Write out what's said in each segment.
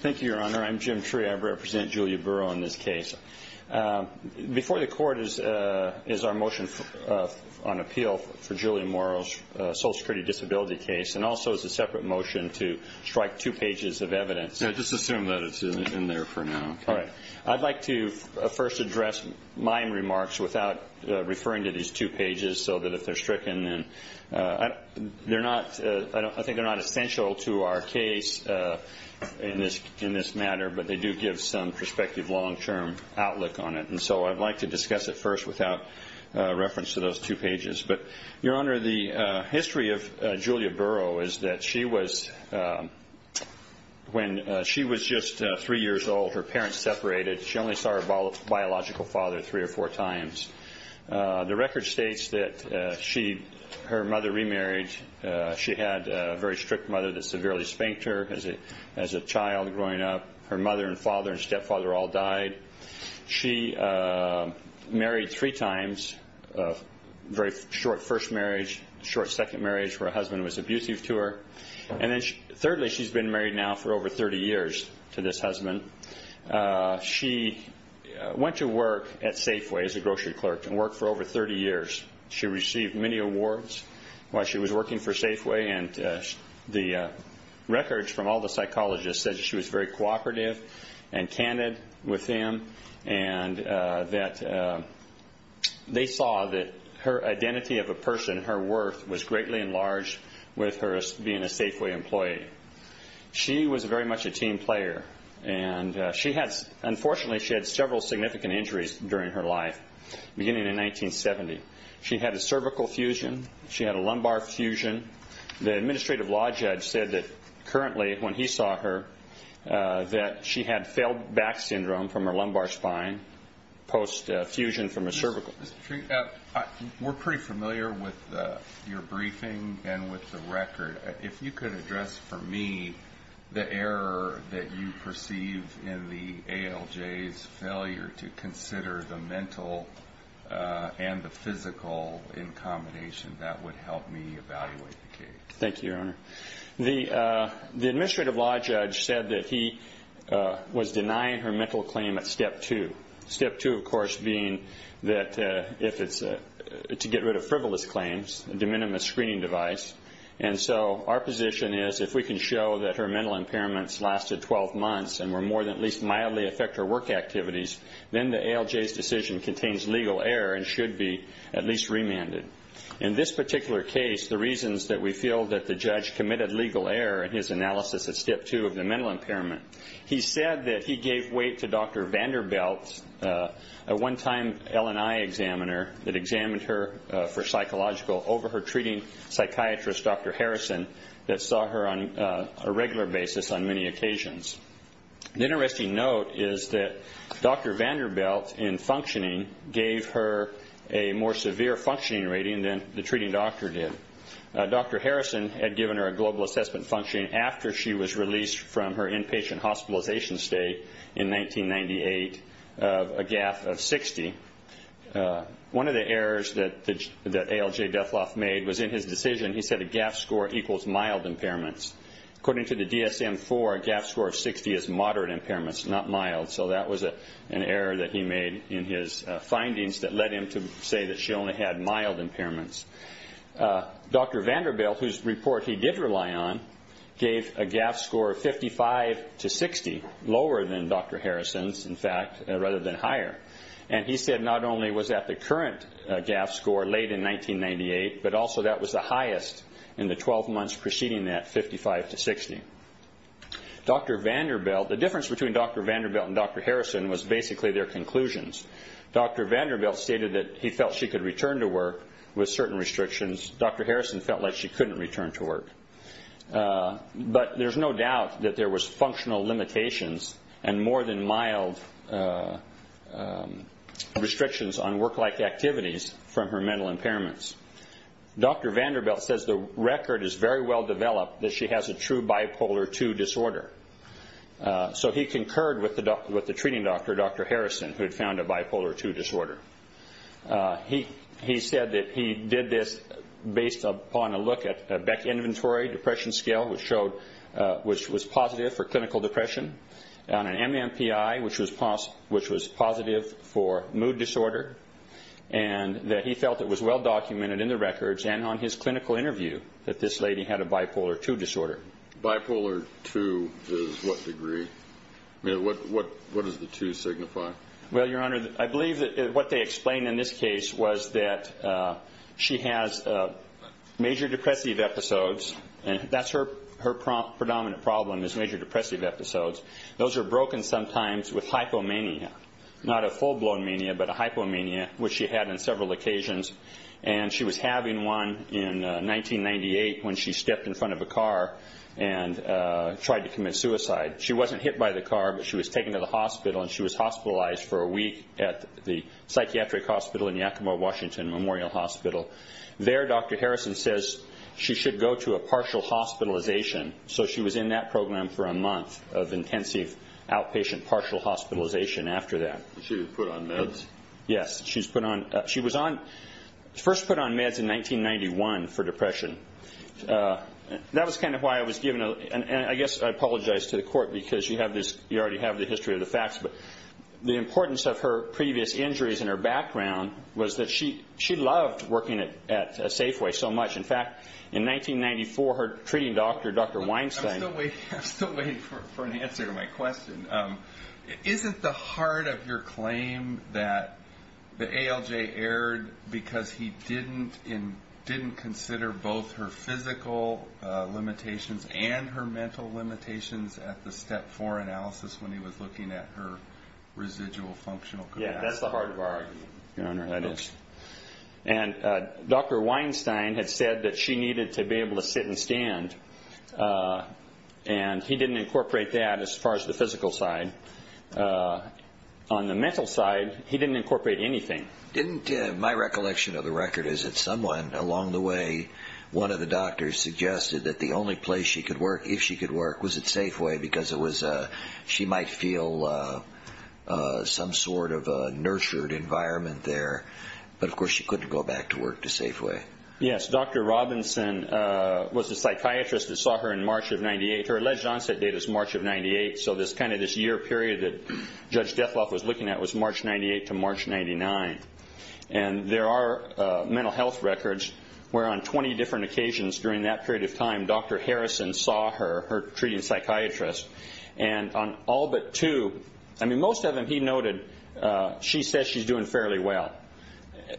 Thank you, Your Honor. I'm Jim Tree. I represent Julia Burrow in this case. Before the court is our motion on appeal for Julia Morrow's social security disability case and also as a separate motion to strike two pages of evidence. Just assume that it's in there for now. All right. I'd like to first address my remarks without referring to these two pages so that if they're stricken. I think they're not essential to our case in this matter, but they do give some perspective, long-term outlook on it. And so I'd like to discuss it first without reference to those two pages. But, Your Honor, the history of Julia Burrow is that when she was just three years old, her parents separated. She only saw her biological father three or four times. The record states that her mother remarried. She had a very strict mother that severely spanked her as a child growing up. Her mother and father and stepfather all died. She married three times, a very short first marriage, short second marriage, where her husband was abusive to her. And then, thirdly, she's been married now for over 30 years to this husband. She went to work at Safeway as a grocery clerk and worked for over 30 years. She received many awards while she was working for Safeway, and the records from all the psychologists said she was very cooperative and candid with them and that they saw that her identity of a person, her worth, was greatly enlarged with her being a Safeway employee. She was very much a team player, and unfortunately she had several significant injuries during her life beginning in 1970. She had a cervical fusion. She had a lumbar fusion. The administrative law judge said that currently, when he saw her, that she had failed back syndrome from her lumbar spine post fusion from a cervical. Mr. Treat, we're pretty familiar with your briefing and with the record. If you could address for me the error that you perceive in the ALJ's failure to consider the mental and the physical in combination, that would help me evaluate the case. Thank you, Your Honor. The administrative law judge said that he was denying her mental claim at Step 2, Step 2, of course, being to get rid of frivolous claims, a de minimis screening device. And so our position is if we can show that her mental impairments lasted 12 months and were more than at least mildly affect her work activities, then the ALJ's decision contains legal error and should be at least remanded. In this particular case, the reasons that we feel that the judge committed legal error in his analysis at Step 2 of the mental impairment, he said that he gave weight to Dr. Vanderbilt, a one-time LNI examiner that examined her for psychological over her treating psychiatrist, Dr. Harrison, that saw her on a regular basis on many occasions. An interesting note is that Dr. Vanderbilt, in functioning, gave her a more severe functioning rating than the treating doctor did. Dr. Harrison had given her a global assessment functioning after she was released from her inpatient hospitalization state in 1998 of a GAF of 60. One of the errors that ALJ Dethloff made was in his decision, he said a GAF score equals mild impairments. According to the DSM-IV, a GAF score of 60 is moderate impairments, not mild. So that was an error that he made in his findings that led him to say that she only had mild impairments. Dr. Vanderbilt, whose report he did rely on, gave a GAF score of 55 to 60, lower than Dr. Harrison's, in fact, rather than higher. He said not only was that the current GAF score late in 1998, but also that was the highest in the 12 months preceding that, 55 to 60. The difference between Dr. Vanderbilt and Dr. Harrison was basically their conclusions. Dr. Vanderbilt stated that he felt she could return to work with certain restrictions. Dr. Harrison felt like she couldn't return to work. But there's no doubt that there was functional limitations and more than mild restrictions on work-like activities from her mental impairments. Dr. Vanderbilt says the record is very well developed that she has a true bipolar II disorder. So he concurred with the treating doctor, Dr. Harrison, who had found a bipolar II disorder. He said that he did this based upon a look at a Beck Inventory depression scale, which was positive for clinical depression, on an MMPI, which was positive for mood disorder, and that he felt it was well documented in the records and on his clinical interview that this lady had a bipolar II disorder. Bipolar II is what degree? I mean, what does the II signify? Well, Your Honor, I believe that what they explained in this case was that she has major depressive episodes, and that's her predominant problem is major depressive episodes. Those are broken sometimes with hypomania, not a full-blown mania, but a hypomania, which she had on several occasions. And she was having one in 1998 when she stepped in front of a car and tried to commit suicide. She wasn't hit by the car, but she was taken to the hospital, and she was hospitalized for a week at the psychiatric hospital in Yakima-Washington Memorial Hospital. There, Dr. Harrison says she should go to a partial hospitalization, so she was in that program for a month of intensive outpatient partial hospitalization after that. She was put on meds? Yes, she was first put on meds in 1991 for depression. That was kind of why I was given a little, and I guess I apologize to the court because you already have the history of the facts, but the importance of her previous injuries and her background was that she loved working at Safeway so much. In fact, in 1994, her treating doctor, Dr. Weinstein- I'm still waiting for an answer to my question. Isn't the heart of your claim that the ALJ erred because he didn't consider both her physical limitations and her mental limitations at the step four analysis when he was looking at her residual functional capacity? Yeah, that's the heart of our argument, Your Honor. That is. And Dr. Weinstein had said that she needed to be able to sit and stand, and he didn't incorporate that as far as the physical side. On the mental side, he didn't incorporate anything. My recollection of the record is that someone along the way, one of the doctors suggested that the only place she could work, if she could work, was at Safeway because she might feel some sort of a nurtured environment there, but of course she couldn't go back to work at Safeway. Yes. Dr. Robinson was the psychiatrist that saw her in March of 1998. Her alleged onset date is March of 1998, so this year period that Judge Dethloff was looking at was March 1998 to March 1999. And there are mental health records where on 20 different occasions during that period of time, Dr. Harrison saw her, her treating psychiatrist, and on all but two- I mean, most of them he noted she says she's doing fairly well.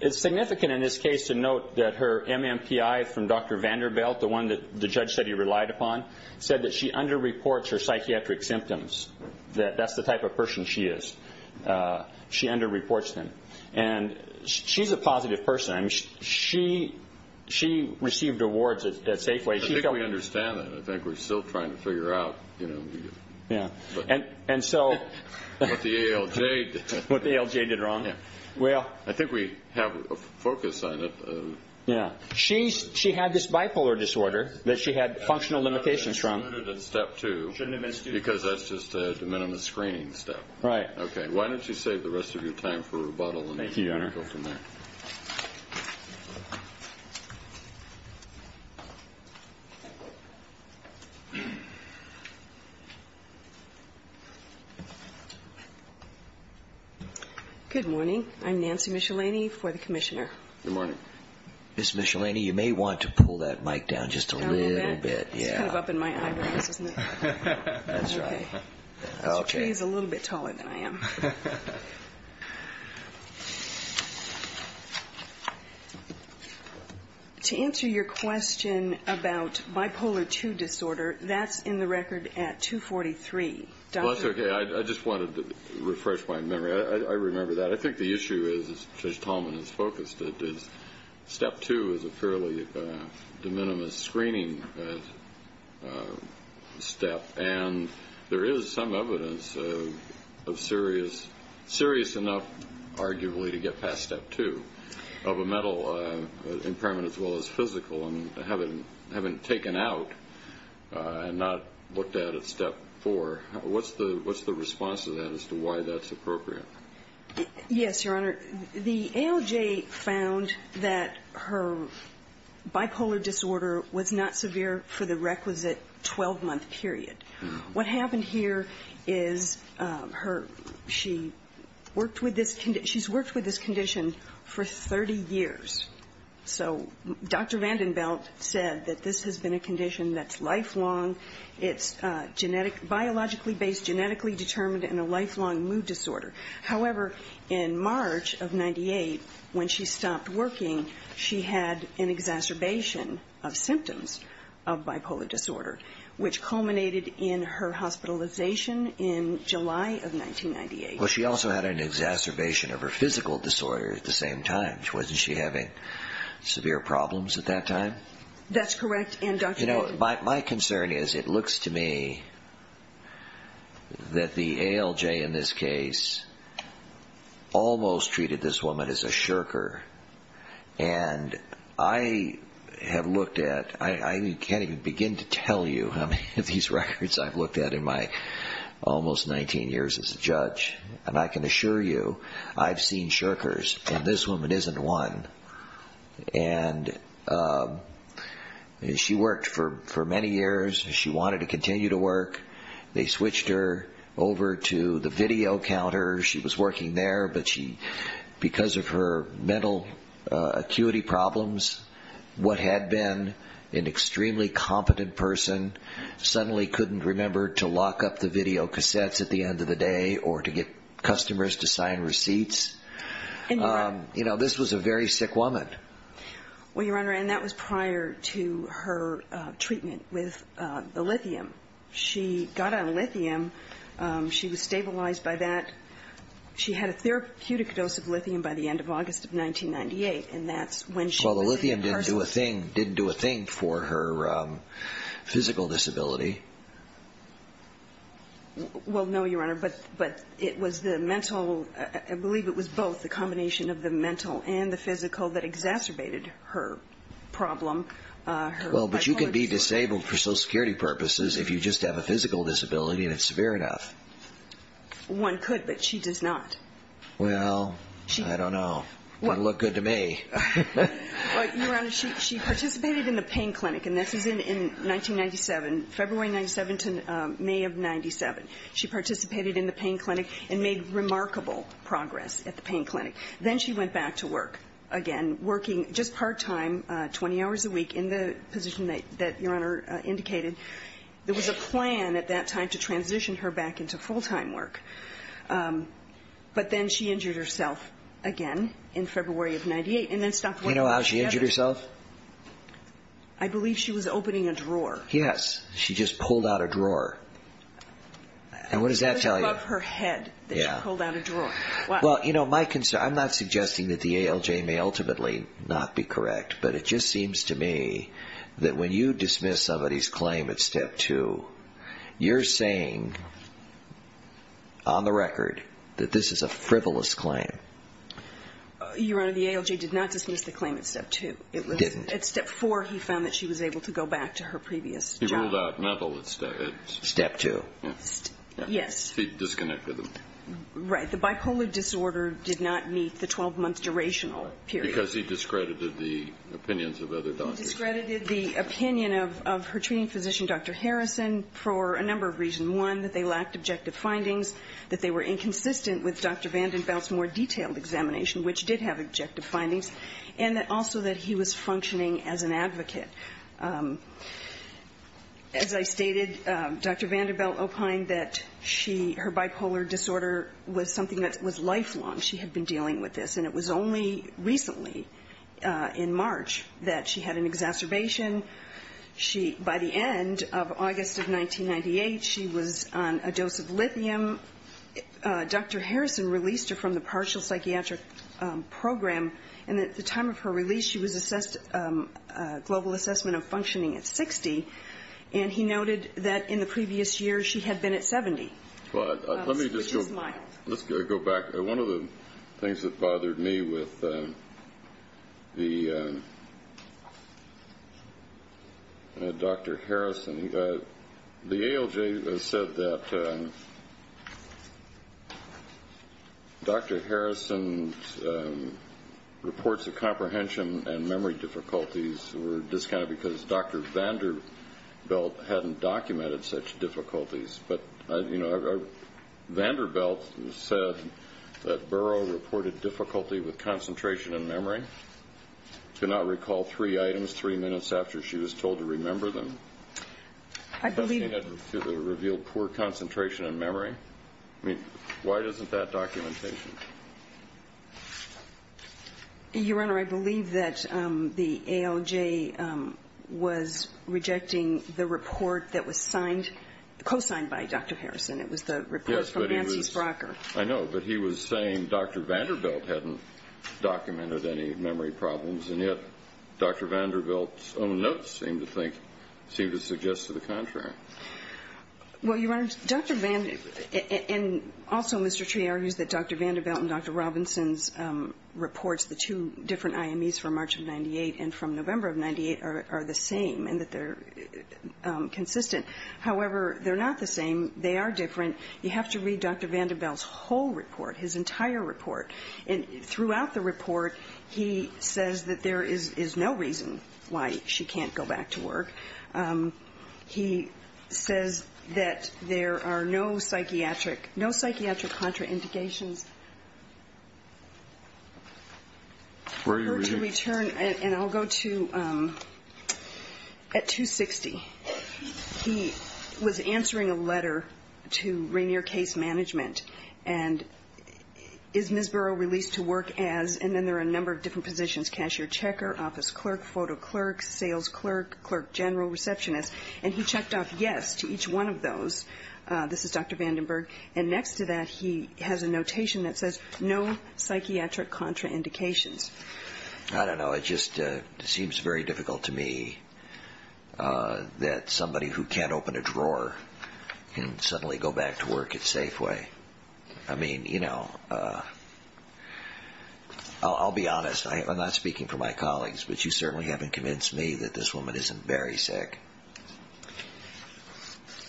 It's significant in this case to note that her MMPI from Dr. Vanderbilt, the one that the judge said he relied upon, said that she underreports her psychiatric symptoms, that that's the type of person she is. She underreports them. And she's a positive person. I mean, she received awards at Safeway. I think we understand that. I think we're still trying to figure out, you know, what the ALJ did wrong. Well, I think we have a focus on it. Yeah. She had this bipolar disorder that she had functional limitations from. That's included in step two because that's just a de minimis screening step. Right. Okay. Why don't you save the rest of your time for rebuttal and we'll go from there. Thank you, Your Honor. Thank you. Good morning. I'm Nancy Michelini for the commissioner. Good morning. Ms. Michelini, you may want to pull that mic down just a little bit. It's kind of up in my eyebrows, isn't it? That's right. This tree is a little bit taller than I am. To answer your question about bipolar II disorder, that's in the record at 243. That's okay. I just wanted to refresh my memory. I remember that. I think the issue is, as Judge Tallman has focused it, is step two is a fairly de minimis screening step. And there is some evidence of serious enough, arguably, to get past step two of a mental impairment as well as physical and having taken out and not looked at at step four. What's the response to that as to why that's appropriate? Yes, Your Honor. The ALJ found that her bipolar disorder was not severe for the requisite 12-month period. What happened here is she worked with this condition for 30 years. So Dr. VandenBelt said that this has been a condition that's lifelong, it's biologically based, genetically determined, and a lifelong mood disorder. However, in March of 1998, when she stopped working, she had an exacerbation of symptoms of bipolar disorder, which culminated in her hospitalization in July of 1998. Well, she also had an exacerbation of her physical disorder at the same time. Wasn't she having severe problems at that time? That's correct. My concern is it looks to me that the ALJ in this case almost treated this woman as a shirker. And I have looked at, I can't even begin to tell you how many of these records I've looked at in my almost 19 years as a judge. And I can assure you I've seen shirkers, and this woman isn't one. And she worked for many years. She wanted to continue to work. They switched her over to the video counter. She was working there, but because of her mental acuity problems, what had been an extremely competent person suddenly couldn't remember to lock up the video cassettes at the end of the day or to get customers to sign receipts. You know, this was a very sick woman. Well, Your Honor, and that was prior to her treatment with the lithium. She got on lithium. She was stabilized by that. She had a therapeutic dose of lithium by the end of August of 1998, and that's when she was a person. Well, the lithium didn't do a thing for her physical disability. Well, no, Your Honor, but it was the mental, I believe it was both the combination of the mental and the physical that exacerbated her problem. Well, but you can be disabled for Social Security purposes if you just have a physical disability and it's severe enough. One could, but she does not. Well, I don't know. It doesn't look good to me. Well, Your Honor, she participated in the pain clinic, and this is in 1997, February 1997 to May of 1997. She participated in the pain clinic and made remarkable progress at the pain clinic. Then she went back to work again, working just part-time, 20 hours a week, in the position that Your Honor indicated. There was a plan at that time to transition her back into full-time work, but then she injured herself again in February of 1998, and then stopped working altogether. Do you know how she injured herself? I believe she was opening a drawer. Yes, she just pulled out a drawer. And what does that tell you? It was above her head that she pulled out a drawer. Well, you know, my concern, I'm not suggesting that the ALJ may ultimately not be correct, but it just seems to me that when you dismiss somebody's claim at Step 2, you're saying, on the record, that this is a frivolous claim. Your Honor, the ALJ did not dismiss the claim at Step 2. It was at Step 4 he found that she was able to go back to her previous job. He ruled out mental at Step 2. Yes. He disconnected them. Right. The bipolar disorder did not meet the 12-month durational period. Because he discredited the opinions of other doctors. He discredited the opinion of her treating physician, Dr. Harrison, for a number of reasons. One, that they lacked objective findings, that they were inconsistent with Dr. VandenBelt's more detailed examination, which did have objective findings, and that also that he was functioning as an advocate. As I stated, Dr. VandenBelt opined that she, her bipolar disorder was something that was lifelong. She had been dealing with this. And it was only recently, in March, that she had an exacerbation. She, by the end of August of 1998, she was on a dose of lithium. Dr. Harrison released her from the partial psychiatric program, and at the time of her release she was assessed, a global assessment of functioning at 60, and he noted that in the previous year she had been at 70. Let me just go back. One of the things that bothered me with the Dr. Harrison, the ALJ said that Dr. Harrison's reports of comprehension and memory difficulties were discounted because Dr. VandenBelt hadn't documented such difficulties. But, you know, VandenBelt said that Burrow reported difficulty with concentration and memory. I cannot recall three items, three minutes after she was told to remember them. I believe that revealed poor concentration and memory. I mean, why isn't that documentation? Your Honor, I believe that the ALJ was rejecting the report that was signed, co-signed by Dr. Harrison. It was the report from Nancy Sprocker. I know, but he was saying Dr. VandenBelt hadn't documented any memory problems, and yet Dr. VandenBelt's own notes seem to suggest to the contrary. Well, Your Honor, Dr. VandenBelt, and also Mr. Tree argues that Dr. VandenBelt and Dr. Robinson's reports, the two different IMEs from March of 98 and from November of 98, are the same and that they're consistent. However, they're not the same. They are different. You have to read Dr. VandenBelt's whole report, his entire report. And throughout the report, he says that there is no reason why she can't go back to work. He says that there are no psychiatric contraindications. For her to return, and I'll go to at 260, he was answering a letter to Rainier Case Management, and is Ms. Burrow released to work as, and then there are a number of different positions, cashier, checker, office clerk, photo clerk, sales clerk, clerk general, receptionist. And he checked off yes to each one of those. This is Dr. VandenBelt. And next to that he has a notation that says no psychiatric contraindications. I don't know. It just seems very difficult to me. That somebody who can't open a drawer can suddenly go back to work at Safeway. I mean, you know, I'll be honest. I'm not speaking for my colleagues, but you certainly haven't convinced me that this woman isn't very sick.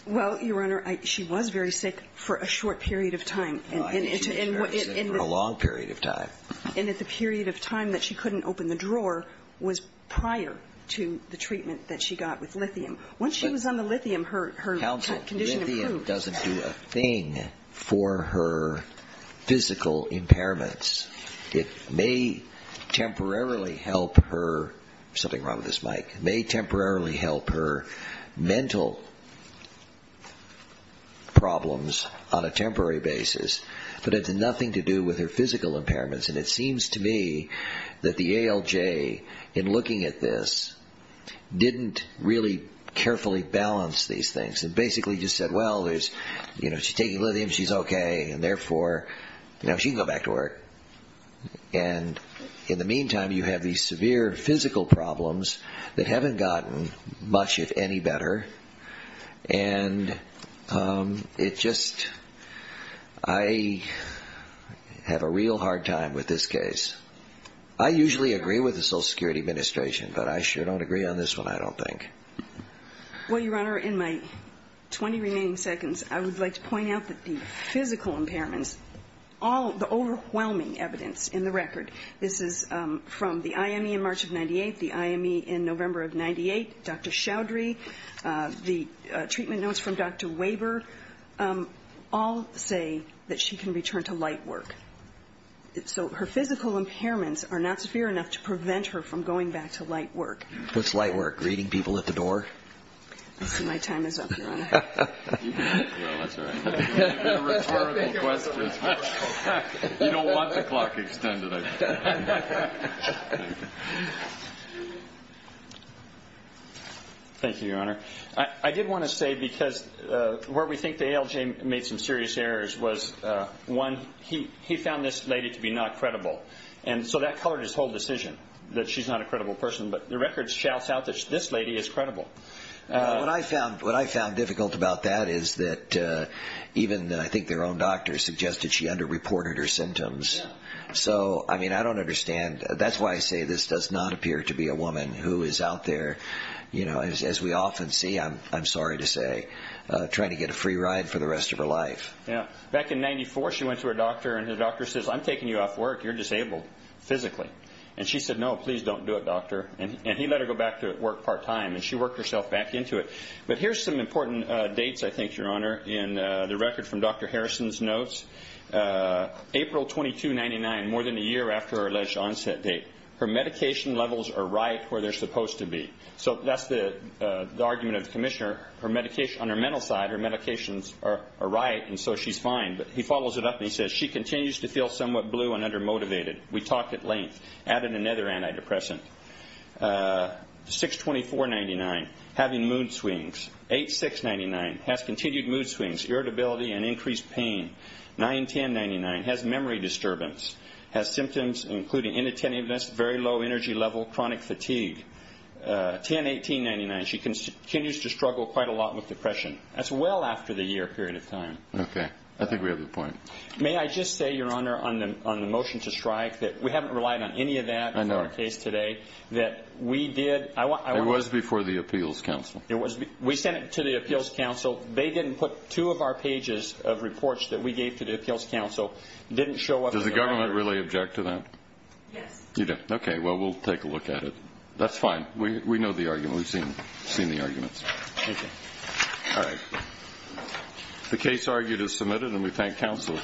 Well, Your Honor, she was very sick for a short period of time. She was very sick for a long period of time. And at the period of time that she couldn't open the drawer was prior to the treatment that she got with lithium. Once she was on the lithium, her condition improved. Council, lithium doesn't do a thing for her physical impairments. It may temporarily help her. There's something wrong with this mic. It may temporarily help her mental problems on a temporary basis, but it's nothing to do with her physical impairments. And it seems to me that the ALJ, in looking at this, didn't really carefully balance these things. It basically just said, well, she's taking lithium. She's okay. And therefore, she can go back to work. And in the meantime, you have these severe physical problems that haven't gotten much, if any, better. And it just, I have a real hard time with this case. I usually agree with the Social Security Administration, but I sure don't agree on this one, I don't think. Well, Your Honor, in my 20 remaining seconds, I would like to point out that the physical impairments, all the overwhelming evidence in the record, this is from the IME in March of 98, the IME in November of 98, Dr. Chaudhry, the treatment notes from Dr. Weber, all say that she can return to light work. So her physical impairments are not severe enough to prevent her from going back to light work. What's light work? Greeting people at the door? Well, that's all right. You don't want the clock extended, I think. Thank you, Your Honor. I did want to say, because where we think the ALJ made some serious errors was, one, he found this lady to be not credible. And so that colored his whole decision, that she's not a credible person. What I found difficult about that is that even, I think, their own doctor suggested she underreported her symptoms. So, I mean, I don't understand. That's why I say this does not appear to be a woman who is out there, as we often see, I'm sorry to say, trying to get a free ride for the rest of her life. Back in 94, she went to her doctor, and her doctor says, I'm taking you off work, you're disabled physically. And she said, no, please don't do it, doctor. And he let her go back to work part-time, and she worked herself back into it. But here's some important dates, I think, Your Honor, in the record from Dr. Harrison's notes. April 2299, more than a year after her alleged onset date. Her medication levels are right where they're supposed to be. So that's the argument of the commissioner. On her mental side, her medications are right, and so she's fine. But he follows it up, and he says, she continues to feel somewhat blue and undermotivated. We talked at length. Added another antidepressant. 6-2499, having mood swings. 8-699, has continued mood swings, irritability, and increased pain. 9-1099, has memory disturbance. Has symptoms including inattentiveness, very low energy level, chronic fatigue. 10-1899, she continues to struggle quite a lot with depression. That's well after the year period of time. Okay. I think we have the point. May I just say, Your Honor, on the motion to strike, that we haven't relied on any of that in our case today. I know. That we did. It was before the Appeals Council. We sent it to the Appeals Council. They didn't put two of our pages of reports that we gave to the Appeals Council. Didn't show up in the record. Does the government really object to that? Yes. Okay. Well, we'll take a look at it. That's fine. We know the argument. We've seen the arguments. Thank you. All right. The case argued is submitted, and we thank counsel for the argument.